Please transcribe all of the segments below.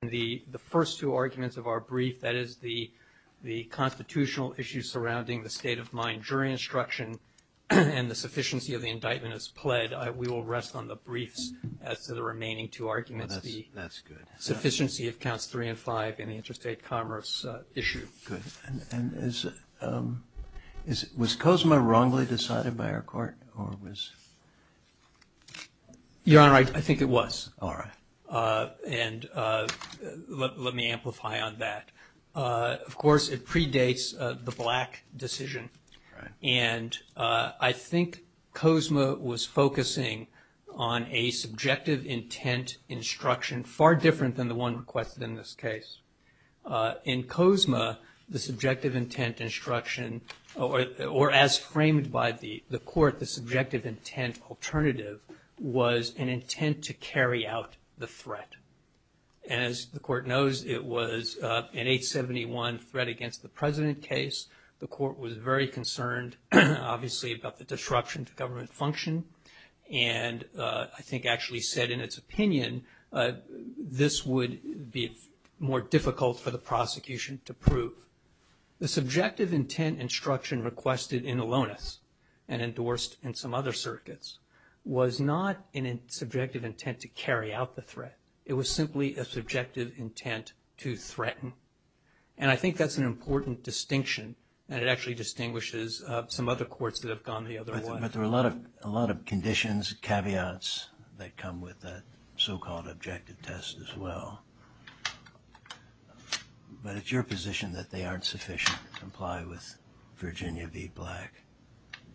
and the first two arguments of our brief, that is the constitutional issues surrounding the state of mind during instruction and the sufficiency of the indictment as pled, we will rest on the briefs as to the remaining two arguments, the sufficiency of counts three and five and the interstate commerce issue. Good. And is, was COSMA wrongly decided by our court or was? Your Honor, I think it was. All right. And let me amplify on that. Of course, it predates the Black decision. And I think COSMA was focusing on a subjective intent instruction far different than the one requested in this case. In COSMA, the subjective intent instruction or as framed by the court, the subjective intent alternative was an intent to carry out the threat. As the court knows, it was an 871 threat against the president case. The court was very concerned, obviously, about the disruption to government function. And I think actually said in its opinion, this would be more difficult for the prosecution to prove. The subjective intent instruction requested in Alonis and endorsed in some other circuits was not in a subjective intent to carry out the threat. It was simply a subjective intent to threaten. And I think that's an important distinction and it actually distinguishes some other courts that have gone the other way. But there are a lot of, a lot of conditions, caveats that come with that so-called objective test as well. But it's your position that they aren't sufficient to comply with Virginia v. Black.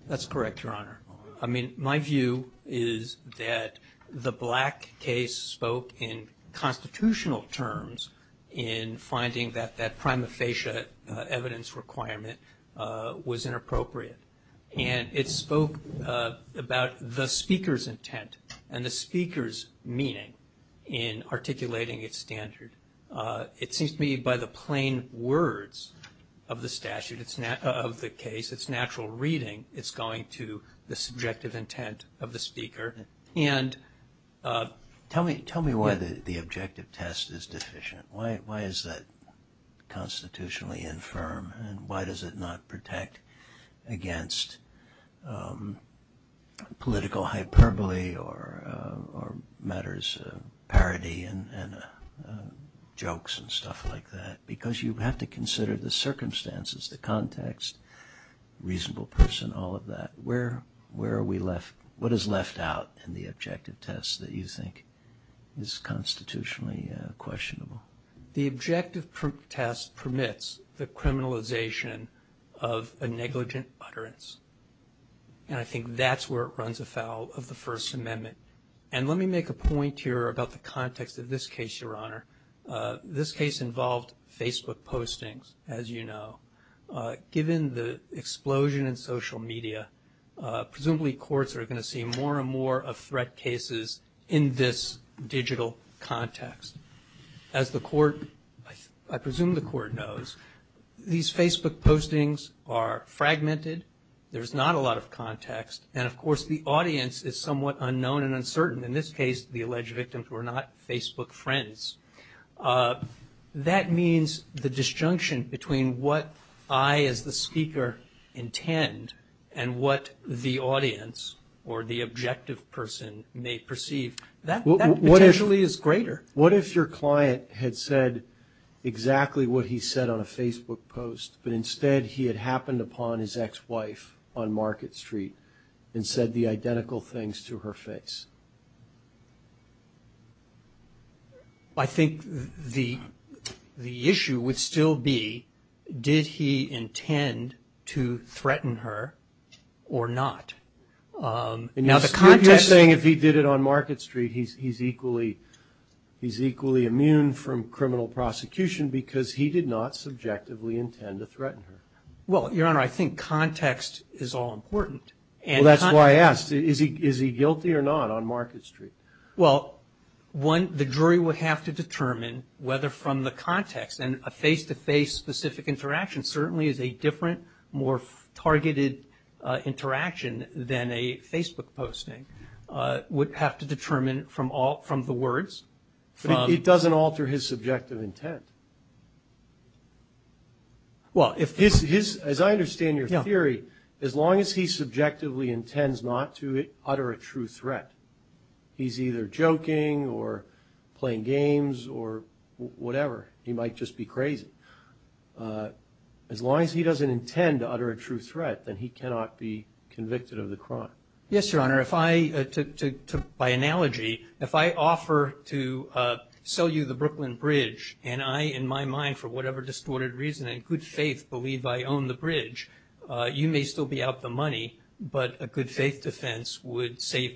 That's correct, Your Honor. I mean, my view is that the Black case spoke in constitutional terms in finding that that prima facie evidence requirement was inappropriate. And it spoke about the speaker's intent and the speaker's meaning in articulating its standard. It seems to me by the plain words of the statute, of the case, it's natural reading, it's going to the subjective intent of the speaker. And tell me, tell me why the objective test is deficient. Why is that constitutionally infirm and why does it not protect against political hyperbole or matters of parody and jokes and stuff like that? Because you have to consider the circumstances, the context, reasonable person, all of that. Where are we left? What is left out in the objective test that you think is constitutionally questionable? The objective test permits the criminalization of a negligent utterance. And I think that's where it runs afoul of the First Amendment. And let me make a point here about the context of this case, Your Honor. This case involved Facebook postings, as you know. Given the explosion in social media, presumably courts are going to see more and more of threat cases in this digital context. As the court, I presume the court knows, these Facebook postings are fragmented. There's not a lot of context. And of course, the audience is somewhat unknown and uncertain. In this case, the alleged victims were not Facebook friends. That means the disjunction between what I as the speaker intend and what the audience or the objective person may perceive, that potentially is greater. What if your client had said exactly what he said on a Facebook post, but instead he had happened upon his ex-wife on Market Street and said the identical things to her face? I think the issue would still be, did he intend to threaten her or not? Now the context... You're saying if he did it on Market Street, he's equally immune from criminal prosecution because he did not subjectively intend to threaten her. Well, Your Honor, I think context is all important. Well, that's why I asked. Is he guilty or not? Well, the jury would have to determine whether from the context and a face-to-face specific interaction certainly is a different, more targeted interaction than a Facebook posting, would have to determine from the words. But it doesn't alter his subjective intent. Well, as I understand your theory, as long as he subjectively intends not to utter a true threat, he's either joking or playing games or whatever. He might just be crazy. As long as he doesn't intend to utter a true threat, then he cannot be convicted of the crime. Yes, Your Honor. By analogy, if I offer to sell you the Brooklyn Bridge and I, in my mind, for whatever distorted reason, in good faith, believe I own the bridge, you may still be out the money, but a good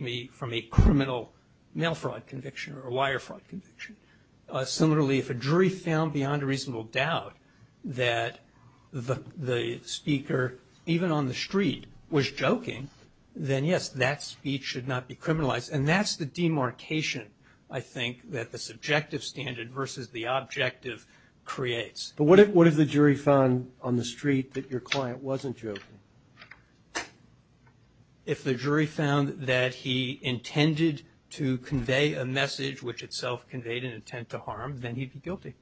me from a criminal mail fraud conviction or a wire fraud conviction. Similarly, if a jury found beyond a reasonable doubt that the speaker, even on the street, was joking, then yes, that speech should not be criminalized. And that's the demarcation, I think, that the subjective standard versus the objective creates. But what if the jury found on the street that your client wasn't joking? If the jury found that he intended to convey a message which itself conveyed an intent to harm, then he'd be guilty.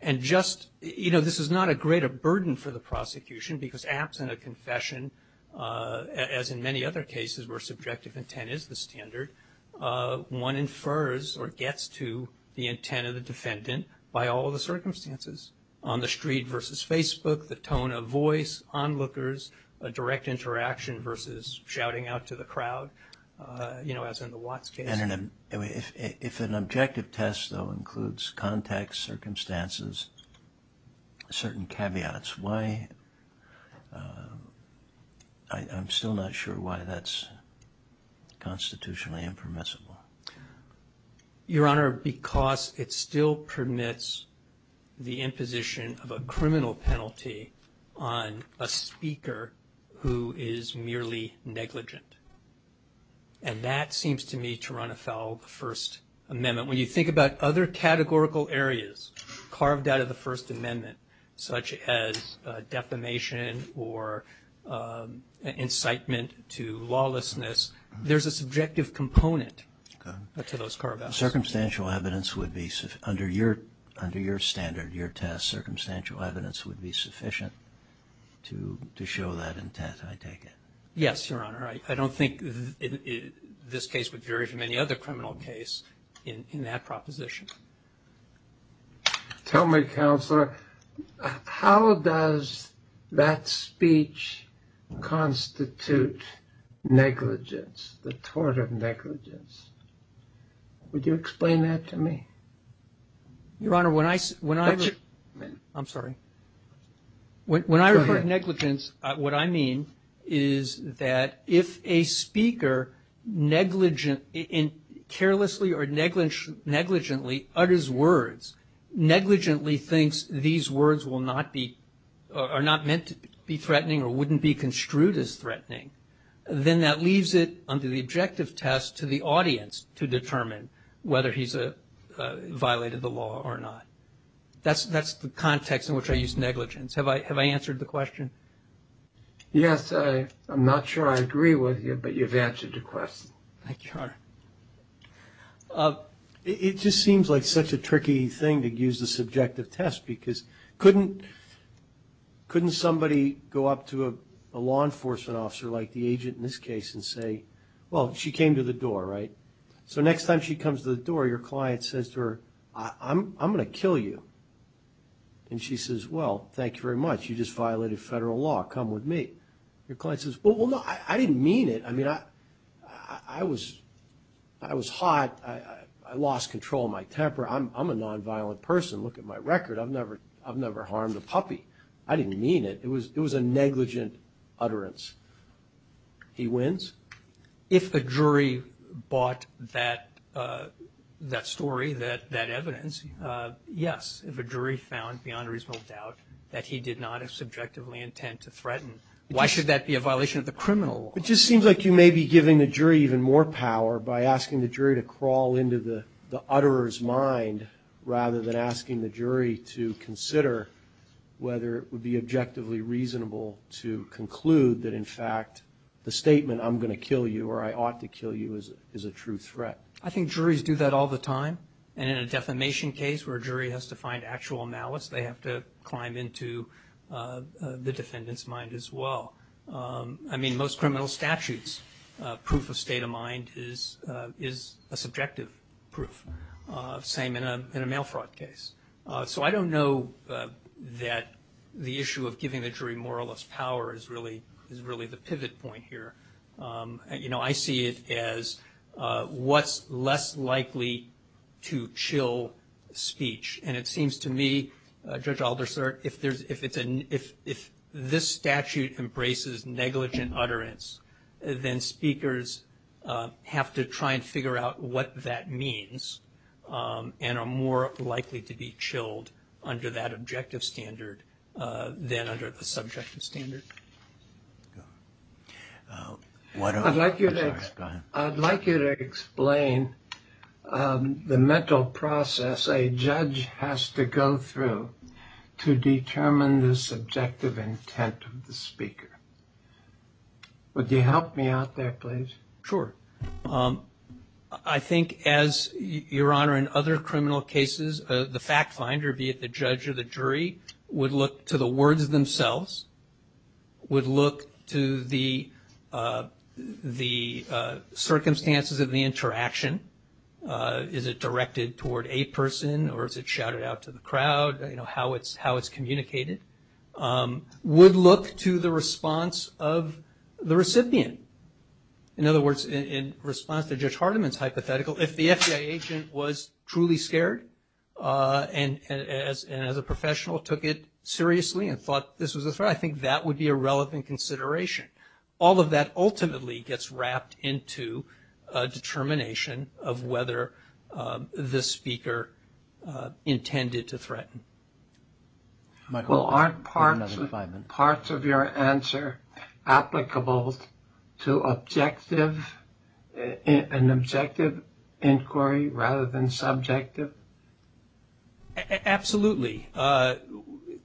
And just, you know, this is not a greater burden for the prosecution because absent a confession, as in many other cases where subjective intent is the standard, one infers or gets to the intent of the defendant by all the circumstances. On the street versus Facebook, the tone of voice, onlookers, a direct interaction versus shouting out to the crowd, you know, as in the Watts case. If an objective test, though, includes context, circumstances, certain caveats, why... I'm still not sure why that's constitutionally impermissible. Your Honor, because it still permits the imposition of a criminal penalty on a speaker who is merely negligent. And that seems to me to run afoul of the First Amendment. When you think about other categorical areas carved out of the First Amendment, such as defamation or incitement to lawlessness, there's a subjective component to those carve-outs. Circumstantial evidence would be, under your standard, your test, circumstantial evidence would be sufficient to show that intent, I take it? Yes, Your Honor. I don't think this case would vary from any other criminal case in that proposition. Tell me, Counselor, how does that speech constitute negligence, the tort of negligence? Would you explain that to me? Your Honor, when I... I'm sorry. When I refer to negligence, what I mean is that if a speaker carelessly or negligently utters words, negligently thinks these words are not meant to be threatening or wouldn't be construed as threatening, then that leaves it under the objective test to the audience to determine whether he's violated the law or not. That's the context in which I use negligence. Have I answered the question? Yes. I'm not sure I agree with you, but you've answered the question. Thank you, Your Honor. It just seems like such a tricky thing to use the subjective test because couldn't somebody go up to a law enforcement officer like the agent in this case and say, well, she came to the door, right? So next time she comes to the door, your client says to her, I'm going to kill you. And she says, well, thank you very much. You just violated federal law. Come with me. Your client says, well, no, I didn't mean it. I mean, I was hot. I lost control of my temper. I'm a nonviolent person. Look at my record. I've never harmed a puppy. I didn't mean it. It was a negligent utterance. He wins? If a jury bought that story, that evidence, yes. If a jury found beyond a reasonable doubt that he did not have subjectively intent to threaten, why should that be a violation of the criminal law? Is it fair to crawl into the utterer's mind rather than asking the jury to consider whether it would be objectively reasonable to conclude that, in fact, the statement, I'm going to kill you or I ought to kill you, is a true threat? I think juries do that all the time. And in a defamation case where a jury has to find actual malice, they have to climb into the defendant's mind as well. I mean, most criminal statutes, proof of state of mind is a subjective proof. Same in a mail fraud case. So I don't know that the issue of giving the jury moralist power is really the pivot point here. You know, I see it as what's less likely to chill speech. And it seems to me, Judge Alderser, if this statute embraces negligent utterance, then speakers have to try and figure out what that means and are more likely to be chilled under that objective standard than under the subjective standard. I'd like you to explain the mental process a judge has to go through to determine the subjective intent of the speaker. Would you help me out there, please? Sure. I think, Your Honor, in other criminal cases, the fact finder, be it the judge or the jury, would look to the words themselves. Would look to the circumstances of the interaction. Is it directed toward a person or is it shouted out to the crowd? You know, how it's communicated. Would look to the response of the recipient. In other words, in response to Judge Hardiman's hypothetical, if the FBI agent was truly scared and as a professional took it seriously and thought this was a threat, I think that would be a relevant consideration. All of that ultimately gets wrapped into a determination of whether this speaker intended to threaten. Well, aren't parts of your answer applicable to an objective inquiry rather than subjective? Absolutely.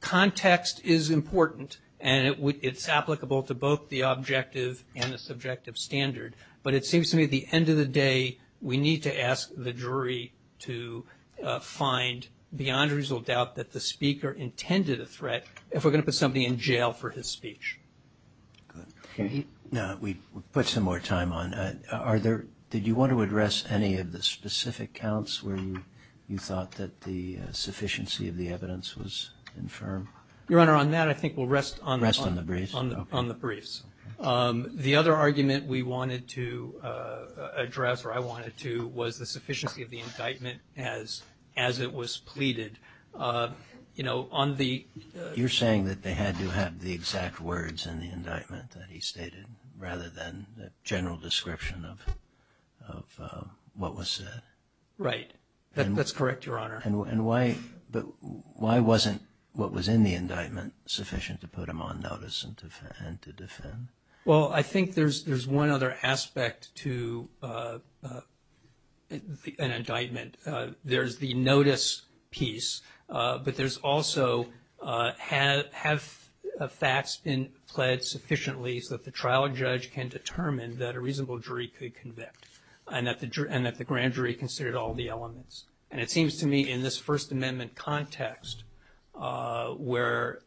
Context is important and it's applicable to both the objective and the subjective standard. But it seems to me at the end of the day, we need to ask the jury to find beyond a reasonable doubt that the speaker intended a threat if we're going to put somebody in jail for his speech. Okay. We put some more time on that. Did you want to address any of the specific counts where you thought that the sufficiency of the evidence was infirm? Your Honor, on that I think we'll rest on the briefs. The other argument we wanted to address, or I wanted to, was the sufficiency of the indictment as it was pleaded. You're saying that they had to have the exact words in the indictment that he stated rather than the general description of what was said. Right. That's correct, Your Honor. And why wasn't what was in the indictment sufficient to put him on notice and to defend? Well, I think there's one other aspect to an indictment. There's the notice piece, but there's also have facts been pled sufficiently so that the trial judge can determine that a reasonable jury could convict and that the grand jury considered all the elements. And it seems to me in this First Amendment context where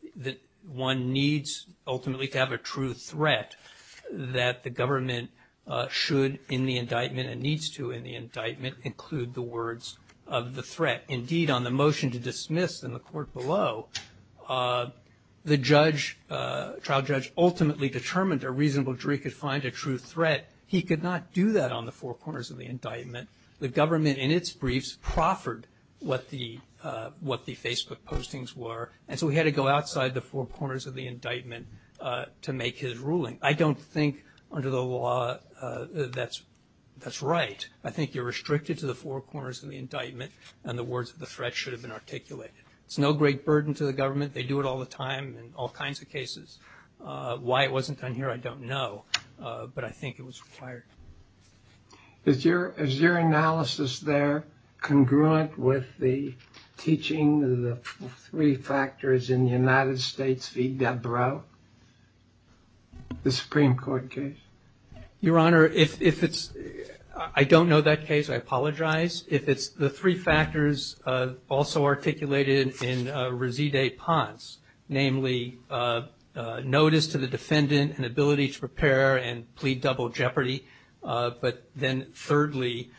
one needs ultimately to have a true threat that the government should in the indictment and needs to in the indictment include the words of the threat. Indeed, on the motion to dismiss in the court below, the trial judge ultimately determined a reasonable jury could find a true threat. He could not do that on the four corners of the indictment. The government in its briefs proffered what the Facebook postings were, and so he had to go outside the four corners of the indictment to make his ruling. I don't think under the law that's right. I think you're restricted to the four corners of the indictment and the words of the threat should have been articulated. It's no great burden to the government. They do it all the time in all kinds of cases. Why it wasn't done here I don't know, but I think it was required. Is your analysis there congruent with the teaching of the three factors in the United States v. Debrow, the Supreme Court case? Your Honor, I don't know that case. I apologize. The three factors also articulated in Reseda Ponce, namely notice to the defendant and ability to prepare and plead double jeopardy, but then thirdly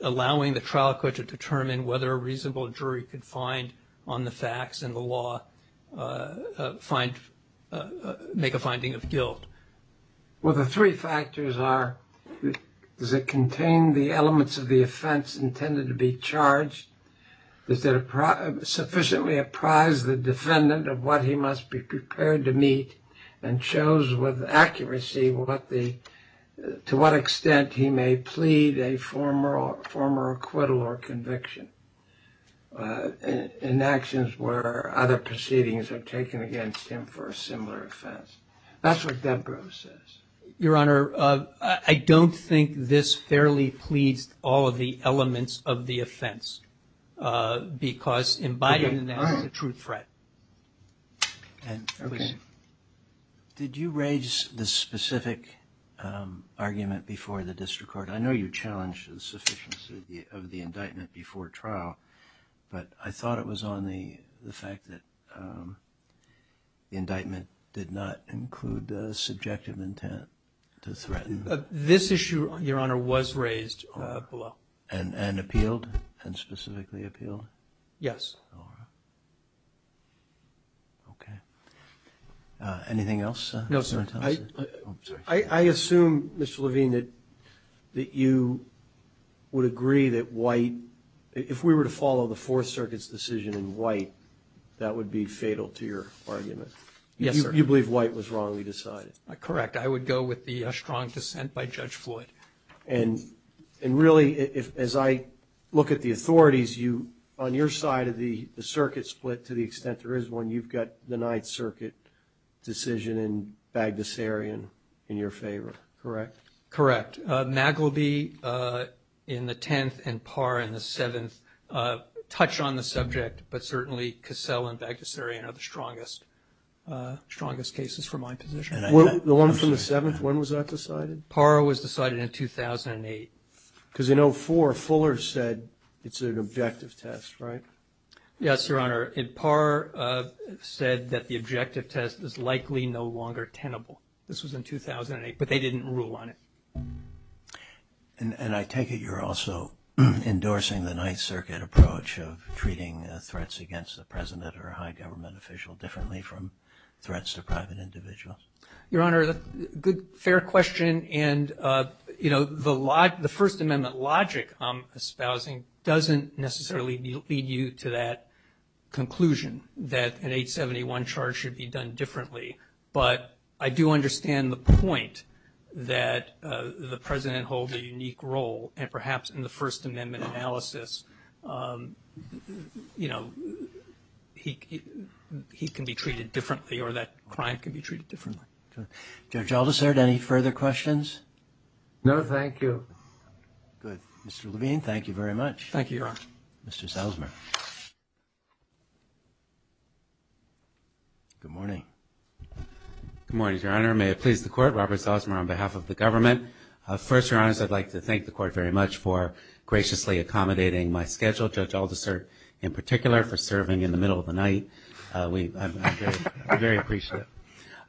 allowing the trial court to determine whether a reasonable jury could find on the facts and the law make a finding of guilt. Well, the three factors are does it contain the elements of the offense intended to be charged? Does it sufficiently apprise the defendant of what he must be prepared to meet and shows with accuracy to what extent he may plead a former acquittal or conviction in actions where other proceedings are taken against him for a similar offense. That's what Debrow says. Your Honor, I don't think this fairly pleads all of the elements of the offense because imbibing that is a true threat. Okay. Did you raise the specific argument before the district court? I know you challenged the sufficiency of the indictment before trial, but I thought it was on the fact that the indictment did not include the subjective intent to threaten. This issue, Your Honor, was raised below. And appealed and specifically appealed? Yes. All right. Okay. Anything else? No, sir. I assume, Mr. Levine, that you would agree that White, if we were to follow the Fourth Circuit's decision in White, that would be fatal to your argument? Yes, sir. You believe White was wrongly decided? Correct. I would go with the strong dissent by Judge Floyd. And really, as I look at the authorities, on your side of the circuit split to the extent there is one, you've got the Ninth Circuit decision in Bagdasarian in your favor, correct? Correct. Magleby in the 10th and Parr in the 7th touch on the subject, but certainly Cassell and Bagdasarian are the strongest cases for my position. The one from the 7th, when was that decided? Parr was decided in 2008. Because in 04, Fuller said it's an objective test, right? Yes, Your Honor. Parr said that the objective test is likely no longer tenable. This was in 2008. But they didn't rule on it. And I take it you're also endorsing the Ninth Circuit approach of treating threats against the President or a high government official differently from threats to private individuals? Your Honor, fair question. And, you know, the First Amendment logic I'm espousing doesn't necessarily lead you to that conclusion, that an 871 charge should be done differently. But I do understand the point that the President holds a unique role, and perhaps in the First Amendment analysis, you know, he can be treated differently or that crime can be treated differently. Judge Aldersard, any further questions? No, thank you. Good. Mr. Levine, thank you very much. Thank you, Your Honor. Mr. Salzman. Good morning. Good morning, Your Honor. May it please the Court, Robert Salzman on behalf of the government. First, Your Honor, I'd like to thank the Court very much for graciously accommodating my schedule, Judge Aldersard in particular, for serving in the middle of the night. I'm very appreciative.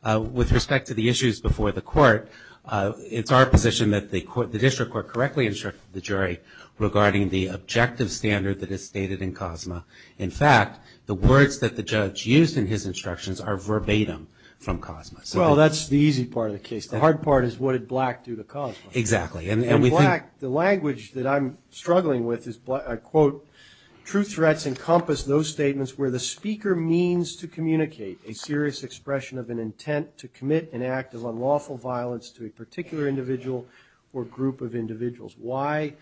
With respect to the issues before the Court, it's our position that the District Court correctly instructed the jury regarding the objective standard that is stated in Cosma. In fact, the words that the judge used in his instructions are verbatim from Cosma. Well, that's the easy part of the case. The hard part is what did Black do to Cosma? Exactly. In Black, the language that I'm struggling with is, I quote, true threats encompass those statements where the speaker means to communicate a serious expression of an intent to commit an act of unlawful violence to a particular individual or group of individuals. Why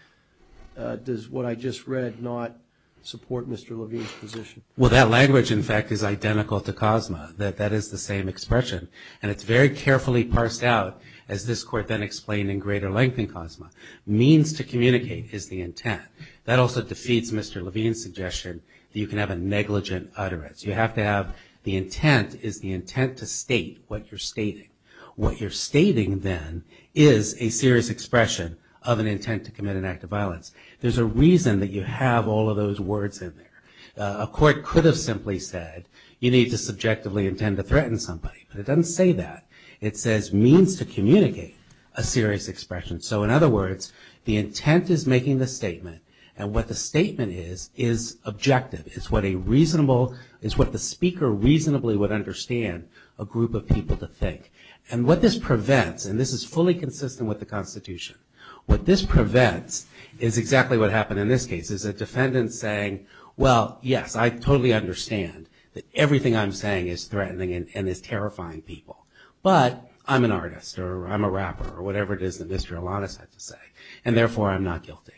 does what I just read not support Mr. Levine's position? Well, that language, in fact, is identical to Cosma, that that is the same expression. And it's very carefully parsed out, as this Court then explained in greater length in Cosma. Means to communicate is the intent. That also defeats Mr. Levine's suggestion that you can have a negligent utterance. You have to have the intent is the intent to state what you're stating. What you're stating, then, is a serious expression of an intent to commit an act of violence. There's a reason that you have all of those words in there. A court could have simply said, you need to subjectively intend to threaten somebody. But it doesn't say that. It says means to communicate a serious expression. So, in other words, the intent is making the statement. And what the statement is, is objective. It's what a reasonable, it's what the speaker reasonably would understand a group of people to think. And what this prevents, and this is fully consistent with the Constitution. What this prevents is exactly what happened in this case. Is a defendant saying, well, yes, I totally understand that everything I'm saying is threatening and is terrifying people. But I'm an artist, or I'm a rapper, or whatever it is that Mr. Alanis had to say. And therefore, I'm not guilty.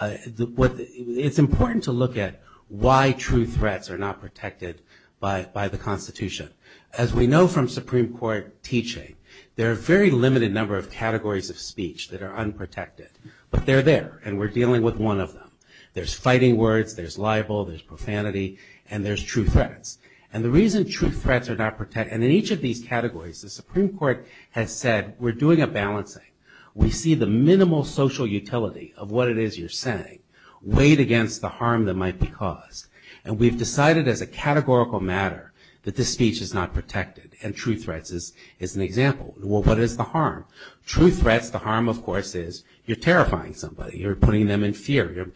It's important to look at why true threats are not protected by the Constitution. As we know from Supreme Court teaching, there are a very limited number of categories of speech that are unprotected. But they're there, and we're dealing with one of them. There's fighting words, there's libel, there's profanity, and there's true threats. And the reason true threats are not protected, and in each of these categories, the Supreme Court has said, we're doing a balancing. We see the minimal social utility of what it is you're saying weighed against the harm that might be caused. And we've decided as a categorical matter that this speech is not protected, and true threats is an example. Well, what is the harm? True threats, the harm, of course, is you're terrifying somebody. You're putting them in fear.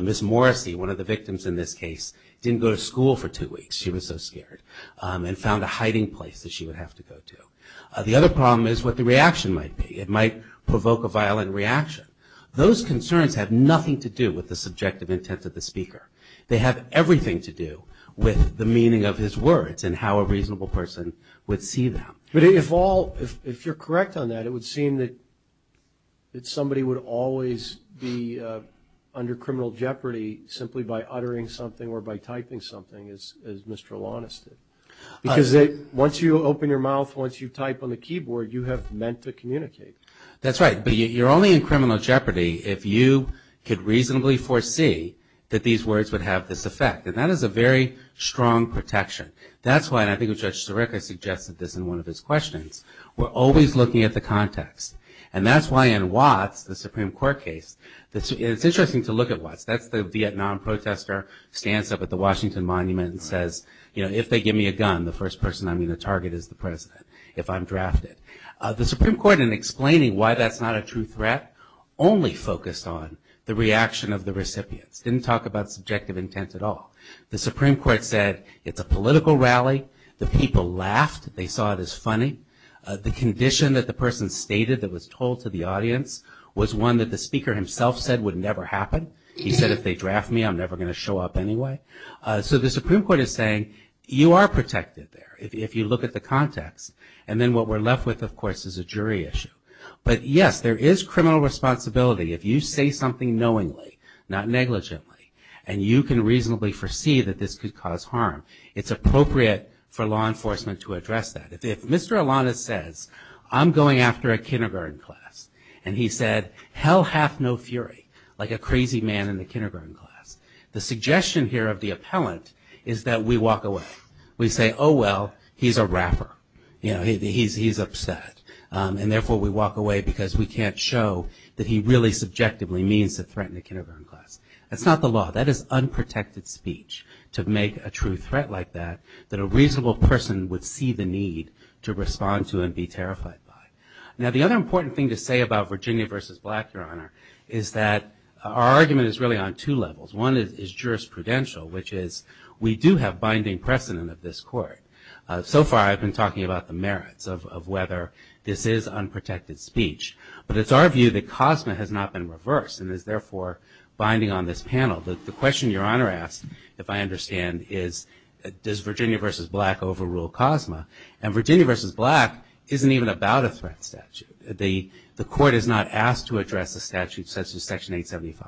Miss Morrissey, one of the victims in this case, didn't go to school for two weeks. She was so scared, and found a hiding place that she would have to go to. The other problem is what the reaction might be. It might provoke a violent reaction. Those concerns have nothing to do with the subjective intent of the speaker. They have everything to do with the meaning of his words and how a reasonable person would see them. But if all, if you're correct on that, it would seem that somebody would always be under criminal jeopardy simply by uttering something or by typing something, as Mr. Alonis did. Because once you open your mouth, once you type on the keyboard, you have meant to communicate. That's right. But you're only in criminal jeopardy if you could reasonably foresee that these words would have this effect. And that is a very strong protection. That's why, and I think Judge Sirica suggested this in one of his questions, we're always looking at the context. And that's why in Watts, the Supreme Court case, it's interesting to look at Watts. That's the Vietnam protester, stands up at the Washington Monument and says, you know, if they give me a gun, the first person I'm going to target is the president if I'm drafted. The Supreme Court, in explaining why that's not a true threat, only focused on the reaction of the recipients. Didn't talk about subjective intent at all. The Supreme Court said, it's a political rally. The people laughed. They saw it as funny. The condition that the person stated that was told to the audience was one that the speaker himself said would never happen. He said, if they draft me, I'm never going to show up anyway. So the Supreme Court is saying, you are protected there if you look at the context. And then what we're left with, of course, is a jury issue. But yes, there is criminal responsibility if you say something knowingly, not negligently, and you can reasonably foresee that this could cause harm. It's appropriate for law enforcement to address that. If Mr. Alanis says, I'm going after a kindergarten class, and he said, hell hath no fury, like a crazy man in the kindergarten class. The suggestion here of the appellant is that we walk away. We say, oh, well, he's a rapper. He's upset. And therefore, we walk away because we can't show that he really subjectively means to threaten a kindergarten class. That's not the law. That is unprotected speech to make a true threat like that, that a reasonable person would see the need to respond to and be terrified by. Now, the other important thing to say about Virginia v. Black, Your Honor, is that our argument is really on two levels. One is jurisprudential, which is we do have binding precedent of this court. So far, I've been talking about the merits of whether this is unprotected speech. But it's our view that COSMA has not been reversed and is therefore binding on this panel. The question Your Honor asked, if I understand, is does Virginia v. Black overrule COSMA? And Virginia v. Black isn't even about a threat statute. The court is not asked to address a statute such as Section 875.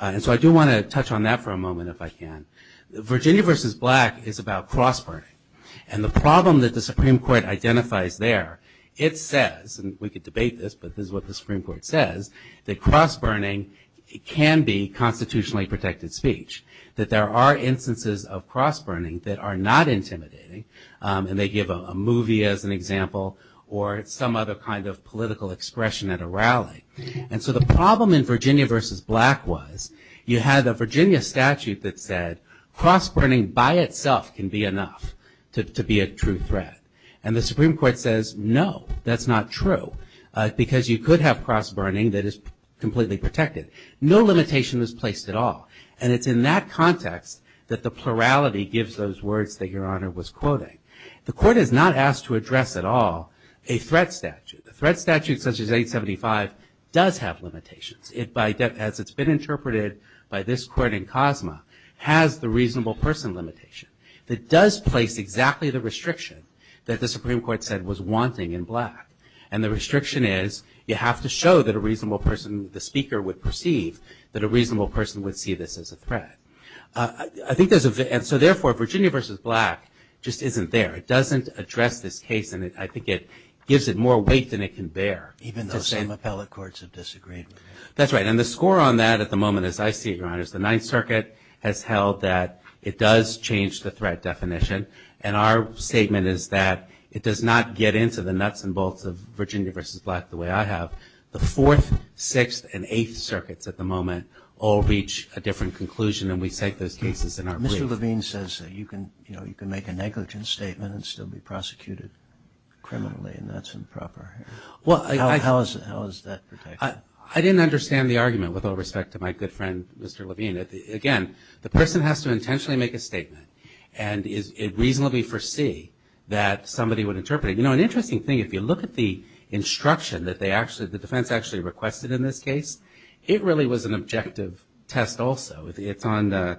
And so I do want to touch on that for a moment if I can. Virginia v. Black is about cross-burning. And the problem that the Supreme Court identifies there, it says, and we could debate this, but this is what the Supreme Court says, that cross-burning can be constitutionally protected speech. That there are instances of cross-burning that are not intimidating. And they give a movie as an example or some other kind of political expression at a rally. And so the problem in Virginia v. Black was, you had a Virginia statute that said, cross-burning by itself can be enough to be a true threat. And the Supreme Court says, no, that's not true. Because you could have cross-burning that is completely protected. No limitation is placed at all. And it's in that context that the plurality gives those words that Your Honor was quoting. The court is not asked to address at all a threat statute. A threat statute such as 875 does have limitations. As it's been interpreted by this court in Cosma, has the reasonable person limitation. It does place exactly the restriction that the Supreme Court said was wanting in Black. And the restriction is, you have to show that a reasonable person, the speaker would perceive, that a reasonable person would see this as a threat. And so therefore, Virginia v. Black just isn't there. It doesn't address this case. And I think it gives it more weight than it can bear. Even though same appellate courts have disagreed with it. That's right. And the score on that at the moment, as I see it, Your Honor, is the Ninth Circuit has held that it does change the threat definition. And our statement is that it does not get into the nuts and bolts of Virginia v. Black the way I have. The Fourth, Sixth, and Eighth Circuits at the moment all reach a different conclusion than we set those cases in our brief. Mr. Levine says that you can make a negligent statement and still be prosecuted criminally, and that's improper. How is that protected? I didn't understand the argument with all respect to my good friend Mr. Levine. Again, the person has to intentionally make a statement and reasonably foresee that somebody would interpret it. You know, an interesting thing, if you look at the instruction that the defense actually requested in this case, it really was an objective test also. It's on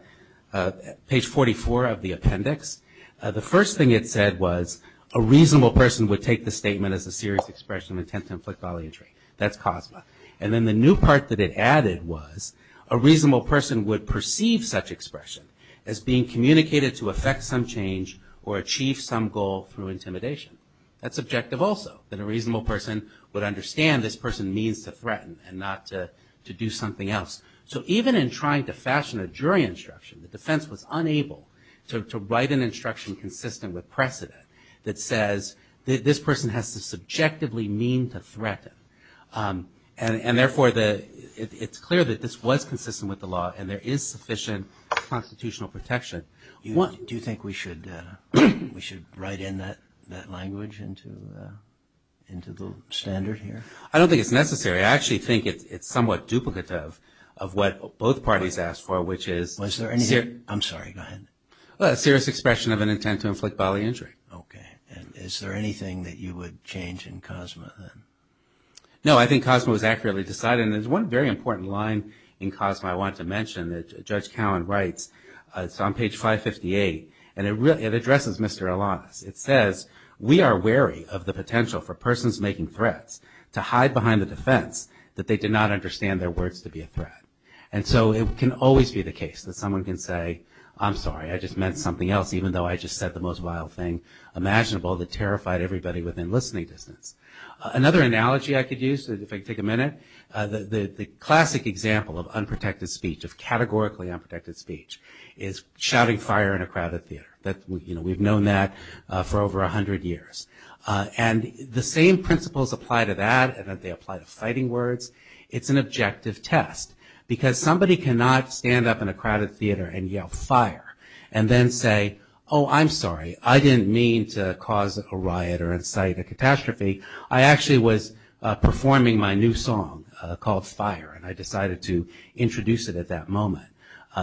page 44 of the appendix. The first thing it said was a reasonable person would take the statement as a serious expression of intent to inflict bodily injury. That's COSMA. And then the new part that it added was a reasonable person would perceive such expression as being communicated to affect some change or achieve some goal through intimidation. That's objective also, that a reasonable person would understand this person means to threaten and not to do something else. So even in trying to fashion a jury instruction, the defense was unable to write an instruction consistent with precedent that says this person has to subjectively mean to threaten. And therefore, it's clear that this was consistent with the law and there is sufficient constitutional protection. Do you think we should write in that language into the standard here? I don't think it's necessary. I actually think it's somewhat duplicative of what both parties asked for, which is... Was there any... I'm sorry, go ahead. A serious expression of an intent to inflict bodily injury. Okay. And is there anything that you would change in COSMA then? No, I think COSMA was accurately decided. And there's one very important line in COSMA I want to mention that Judge Cowen writes. It's on page 558. And it addresses Mr. Alanis. It says, we are wary of the potential for persons making threats to hide behind the defense that they did not understand their words to be a threat. And so it can always be the case that someone can say, I'm sorry, I just meant something else even though I just said the most vile thing imaginable that terrified everybody within listening distance. Another analogy I could use, if I could take a minute, the classic example of unprotected speech, of categorically unprotected speech is shouting fire in a crowded theater. We've known that for over 100 years. And the same principles apply to that and that they apply to fighting words. It's an objective test. Because somebody cannot stand up in a crowded theater and yell fire and then say, oh, I'm sorry, I didn't mean to cause a riot or incite a catastrophe. I actually was performing my new song called Fire and I decided to introduce it at that moment.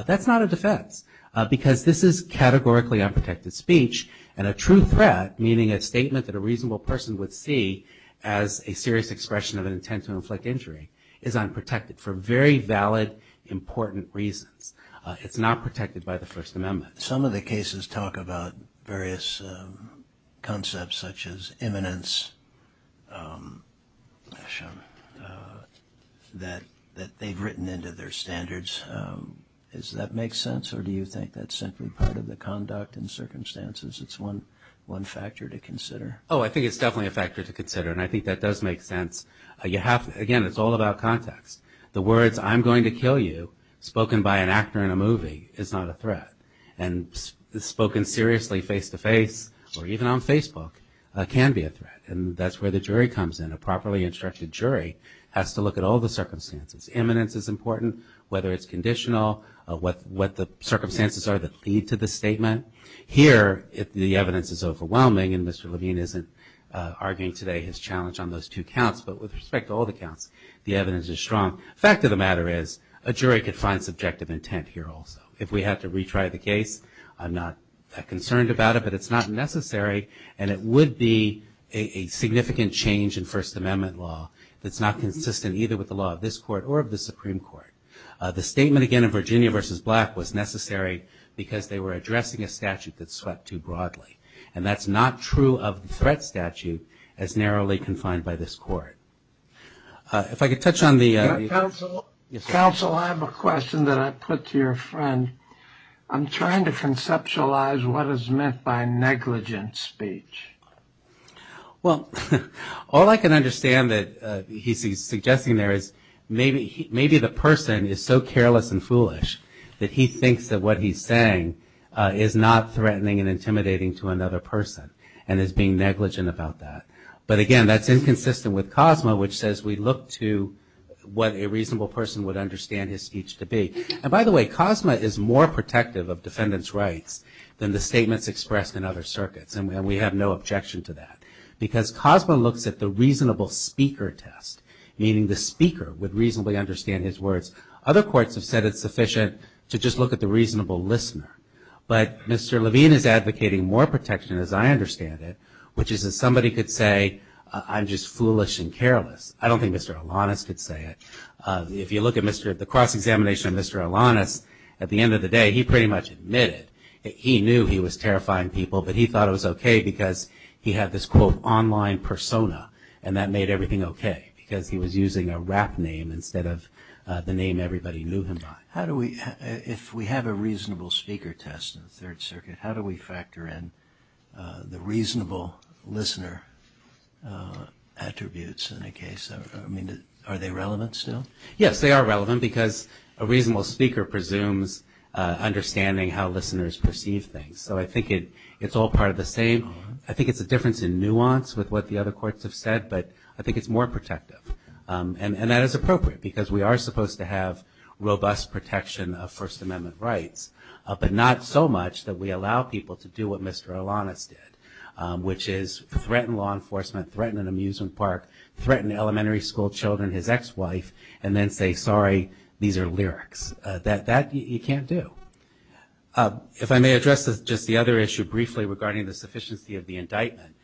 That's not a defense because this is categorically unprotected speech and a true threat, meaning a statement that a reasonable person would see as a serious expression of an intent to inflict injury is unprotected for very valid, important reasons. It's not protected by the First Amendment. Some of the cases talk about various concepts such as imminence that they've written into their standards. Does that make sense or do you think that's simply part of the conduct in circumstances? It's one factor to consider. Oh, I think it's definitely a factor to consider and I think that does make sense. Again, it's all about context. The words, I'm going to kill you, spoken by an actor in a movie is not a threat. And spoken seriously face-to-face or even on Facebook can be a threat. And that's where the jury comes in. A properly instructed jury has to look at all the circumstances. Imminence is important, whether it's conditional, what the circumstances are that lead to the statement. Here, the evidence is overwhelming and Mr. Levine isn't arguing today his challenge on those two counts but with respect to all the counts, the evidence is strong. Fact of the matter is, a jury can find subjective intent here also. If we have to retry the case, I'm not that concerned about it but it's not necessary and it would be a significant change in First Amendment law that's not consistent either with the law of this court or of the Supreme Court. The statement again of Virginia v. Black was necessary because they were addressing a statute that swept too broadly and that's not true of the threat statute as narrowly confined by this court. If I could touch on the... Counsel, I have a question that I put to your friend. I'm trying to conceptualize what is meant by negligent speech. Well, all I can understand that he's suggesting there is maybe the person is so careless and foolish that he thinks that what he's saying is not threatening and intimidating to another person and is being negligent about that. But again, that's inconsistent with COSMA which says we look to what a reasonable person would understand his speech to be. And by the way, COSMA is more protective of defendant's rights than the statements expressed in other circuits and we have no objection to that because COSMA looks at the reasonable speaker test meaning the speaker would reasonably understand his words. Other courts have said it's sufficient to just look at the reasonable listener but Mr. Levine is advocating more protection as I understand it which is that somebody could say I'm just foolish and careless. I don't think Mr. Alanis could say it. If you look at the cross-examination of Mr. Alanis at the end of the day he pretty much admitted he knew he was terrifying people but he thought it was okay because he had this quote online persona and that made everything okay because he was using a rap name instead of the name everybody knew him by. How do we, if we have a reasonable speaker test in the third circuit how do we factor in the reasonable listener attributes in a case, I mean are they relevant still? Yes, they are relevant because a reasonable speaker presumes understanding how listeners perceive things so I think it's all part of the same. I think it's a difference in nuance with what the other courts have said but I think it's more protective and that is appropriate because we are supposed to have robust protection of First Amendment rights but not so much that we allow people to do what Mr. Alanis did which is threaten law enforcement, threaten an amusement park threaten elementary school children, his ex-wife and then say sorry these are lyrics. That you can't do. If I may address just the other issue briefly regarding the sufficiency of the indictment,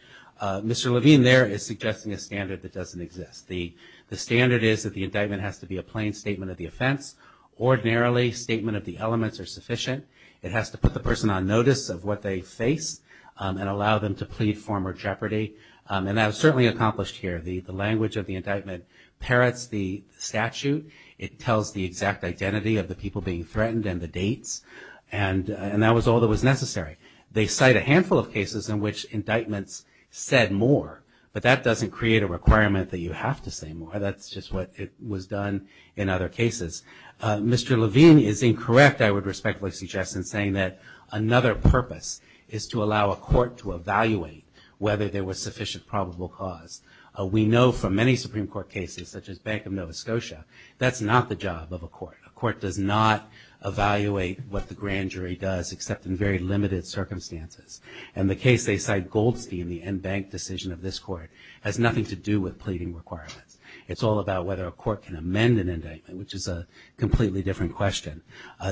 Mr. Levine there is suggesting a standard that doesn't exist. The standard is that the indictment has to be a plain statement of the offense ordinarily statement of the elements are sufficient it has to put the person on notice of what they face and allow them to plead form or jeopardy and that was certainly accomplished here. The language of the indictment parrots the statute, it tells the exact identity of the people being threatened and the dates and that was all that was necessary. They cite a handful of cases in which indictments said more but that doesn't create a requirement that you have to say more that's just what it was done in other cases. Mr. Levine is incorrect I would respectfully suggest in saying that another purpose is to allow a court to evaluate whether there was sufficient probable cause. We know from many Supreme Court cases such as Bank of Nova Scotia that's not the job of a court. A court does not evaluate what the grand jury does except in very limited circumstances and the case they cite Goldstein the end bank decision of this court has nothing to do with pleading requirements. It's all about whether a court can amend an indictment which is a completely different question.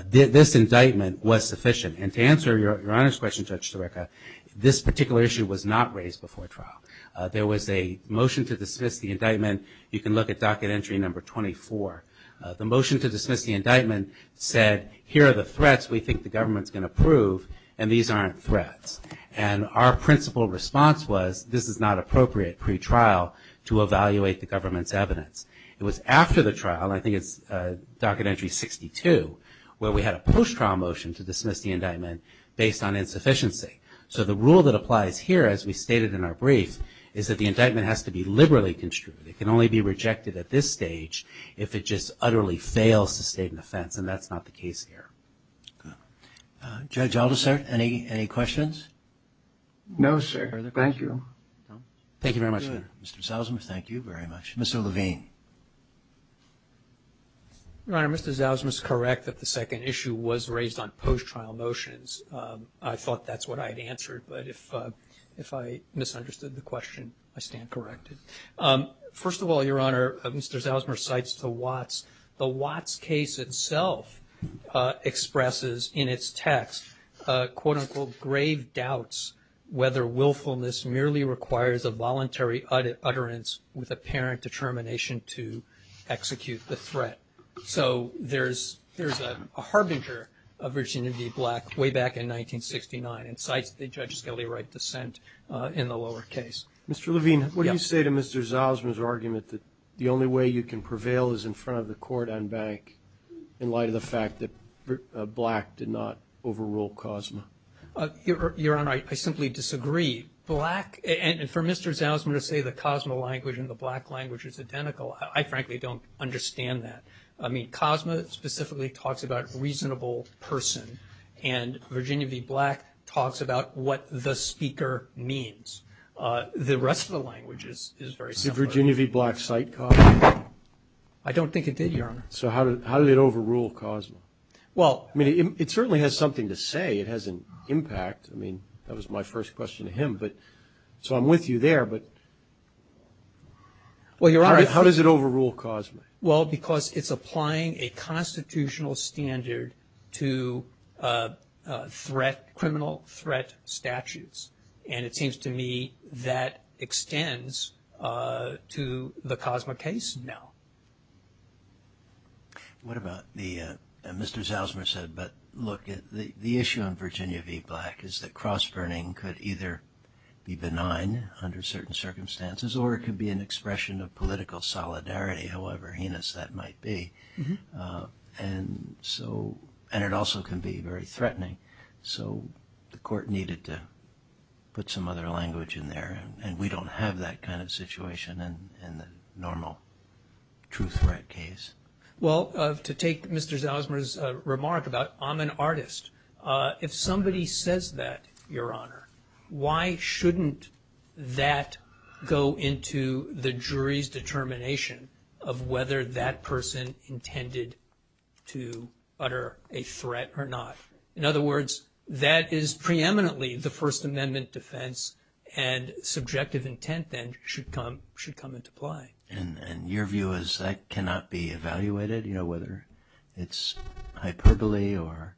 This indictment was sufficient and to answer your honor's question Judge Zureka this particular issue was not raised before trial. There was a motion to dismiss the indictment you can look at docket entry number 24. The motion to dismiss the indictment said here are the threats we think the government's going to prove and these aren't threats and our principle response was this is not appropriate pre-trial to evaluate the government's evidence. It was after the trial I think it's docket entry 62 where we had a post-trial motion to dismiss the indictment based on insufficiency. So the rule that applies here as we stated in our brief is that the indictment has to be liberally construed. It can only be rejected at this stage if it just utterly fails to state an offense and that's not the case here. Judge Aldersart any questions? No sir, thank you. Mr. Zalzmus, thank you very much. Mr. Levine. Your Honor, Mr. Zalzmus is correct that the second issue was raised on post-trial motions. I thought that's what I had answered but if I misunderstood the question I stand corrected. First of all, Your Honor, Mr. Zalzmus cites the Watts. The Watts case itself expresses in its text quote unquote grave doubts whether willfulness merely requires a voluntary utterance with apparent determination to execute the threat. So there's a harbinger of virginity black way back in 1969 and cites the Judge Skelly Wright dissent in the lower case. Mr. Levine, what do you say to Mr. Zalzmus' argument that the only way you can prevail is in front of the court on bank in light of the fact that black did not overrule Cosmo? Your Honor, I simply disagree. Black and for Mr. Zalzmus to say the Cosmo language and the black language is identical, I frankly don't understand that. I mean Cosmo specifically talks about reasonable person and Virginia v. Black talks about what the speaker means. The rest of the language is very similar. Did Virginia v. Black cite Cosmo? I don't think it did, Your Honor. So how did it overrule Cosmo? Well I mean it certainly has something to say. It has an impact. I mean that was my first question to him but so I'm with you there but how does it overrule Cosmo? Well because it's applying a constitutional standard to threat, criminal threat statutes and it seems to me that extends to the Cosmo case now. What about the, Mr. Zalzmus said but look at the issue on Virginia v. Black is that cross burning could either be benign under certain circumstances or it could be an expression of political solidarity however heinous that might be and so and it also can be very threatening so the court needed to put some other language in there and we don't have that kind of situation in the normal true threat case. Well to take Mr. Zalzmus' remark about I'm an artist, if somebody says that Your Honor, why shouldn't that go into the jury's determination of whether that person intended to utter a threat or not? In other words, that is preeminently the First Amendment defense and subjective intent then should come into play. And your view is that cannot be evaluated you know whether it's hyperbole or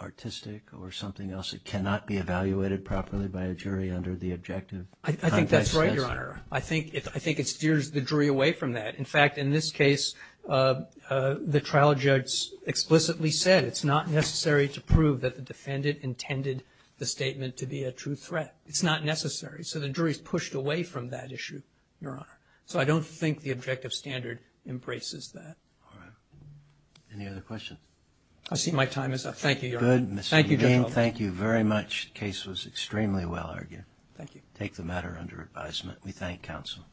artistic or something else that cannot be evaluated properly by a jury under the objective? I think that's right, Your Honor. I think it steers the jury away from that. In fact, in this case the trial judge explicitly said it's not necessary to prove that the defendant intended the statement to be a true threat. It's not necessary. So the jury's pushed away from that issue, Your Honor. So I don't think the objective standard embraces that. All right. Any other questions? I see my time is up. Thank you, Your Honor. Thank you. Thank you very much. Case was extremely well argued. Thank you. Take the matter under advisement. We thank counsel.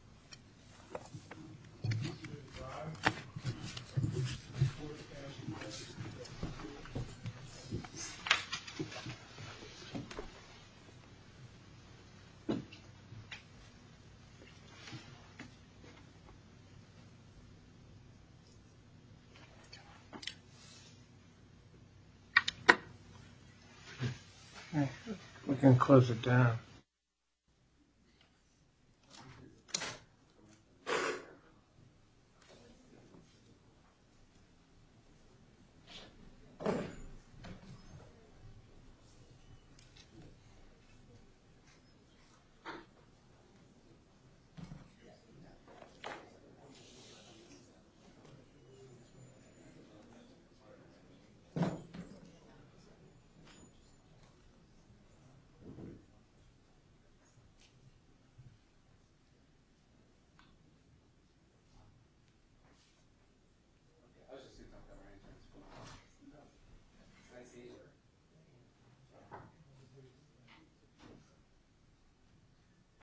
We can close it down. Thank you.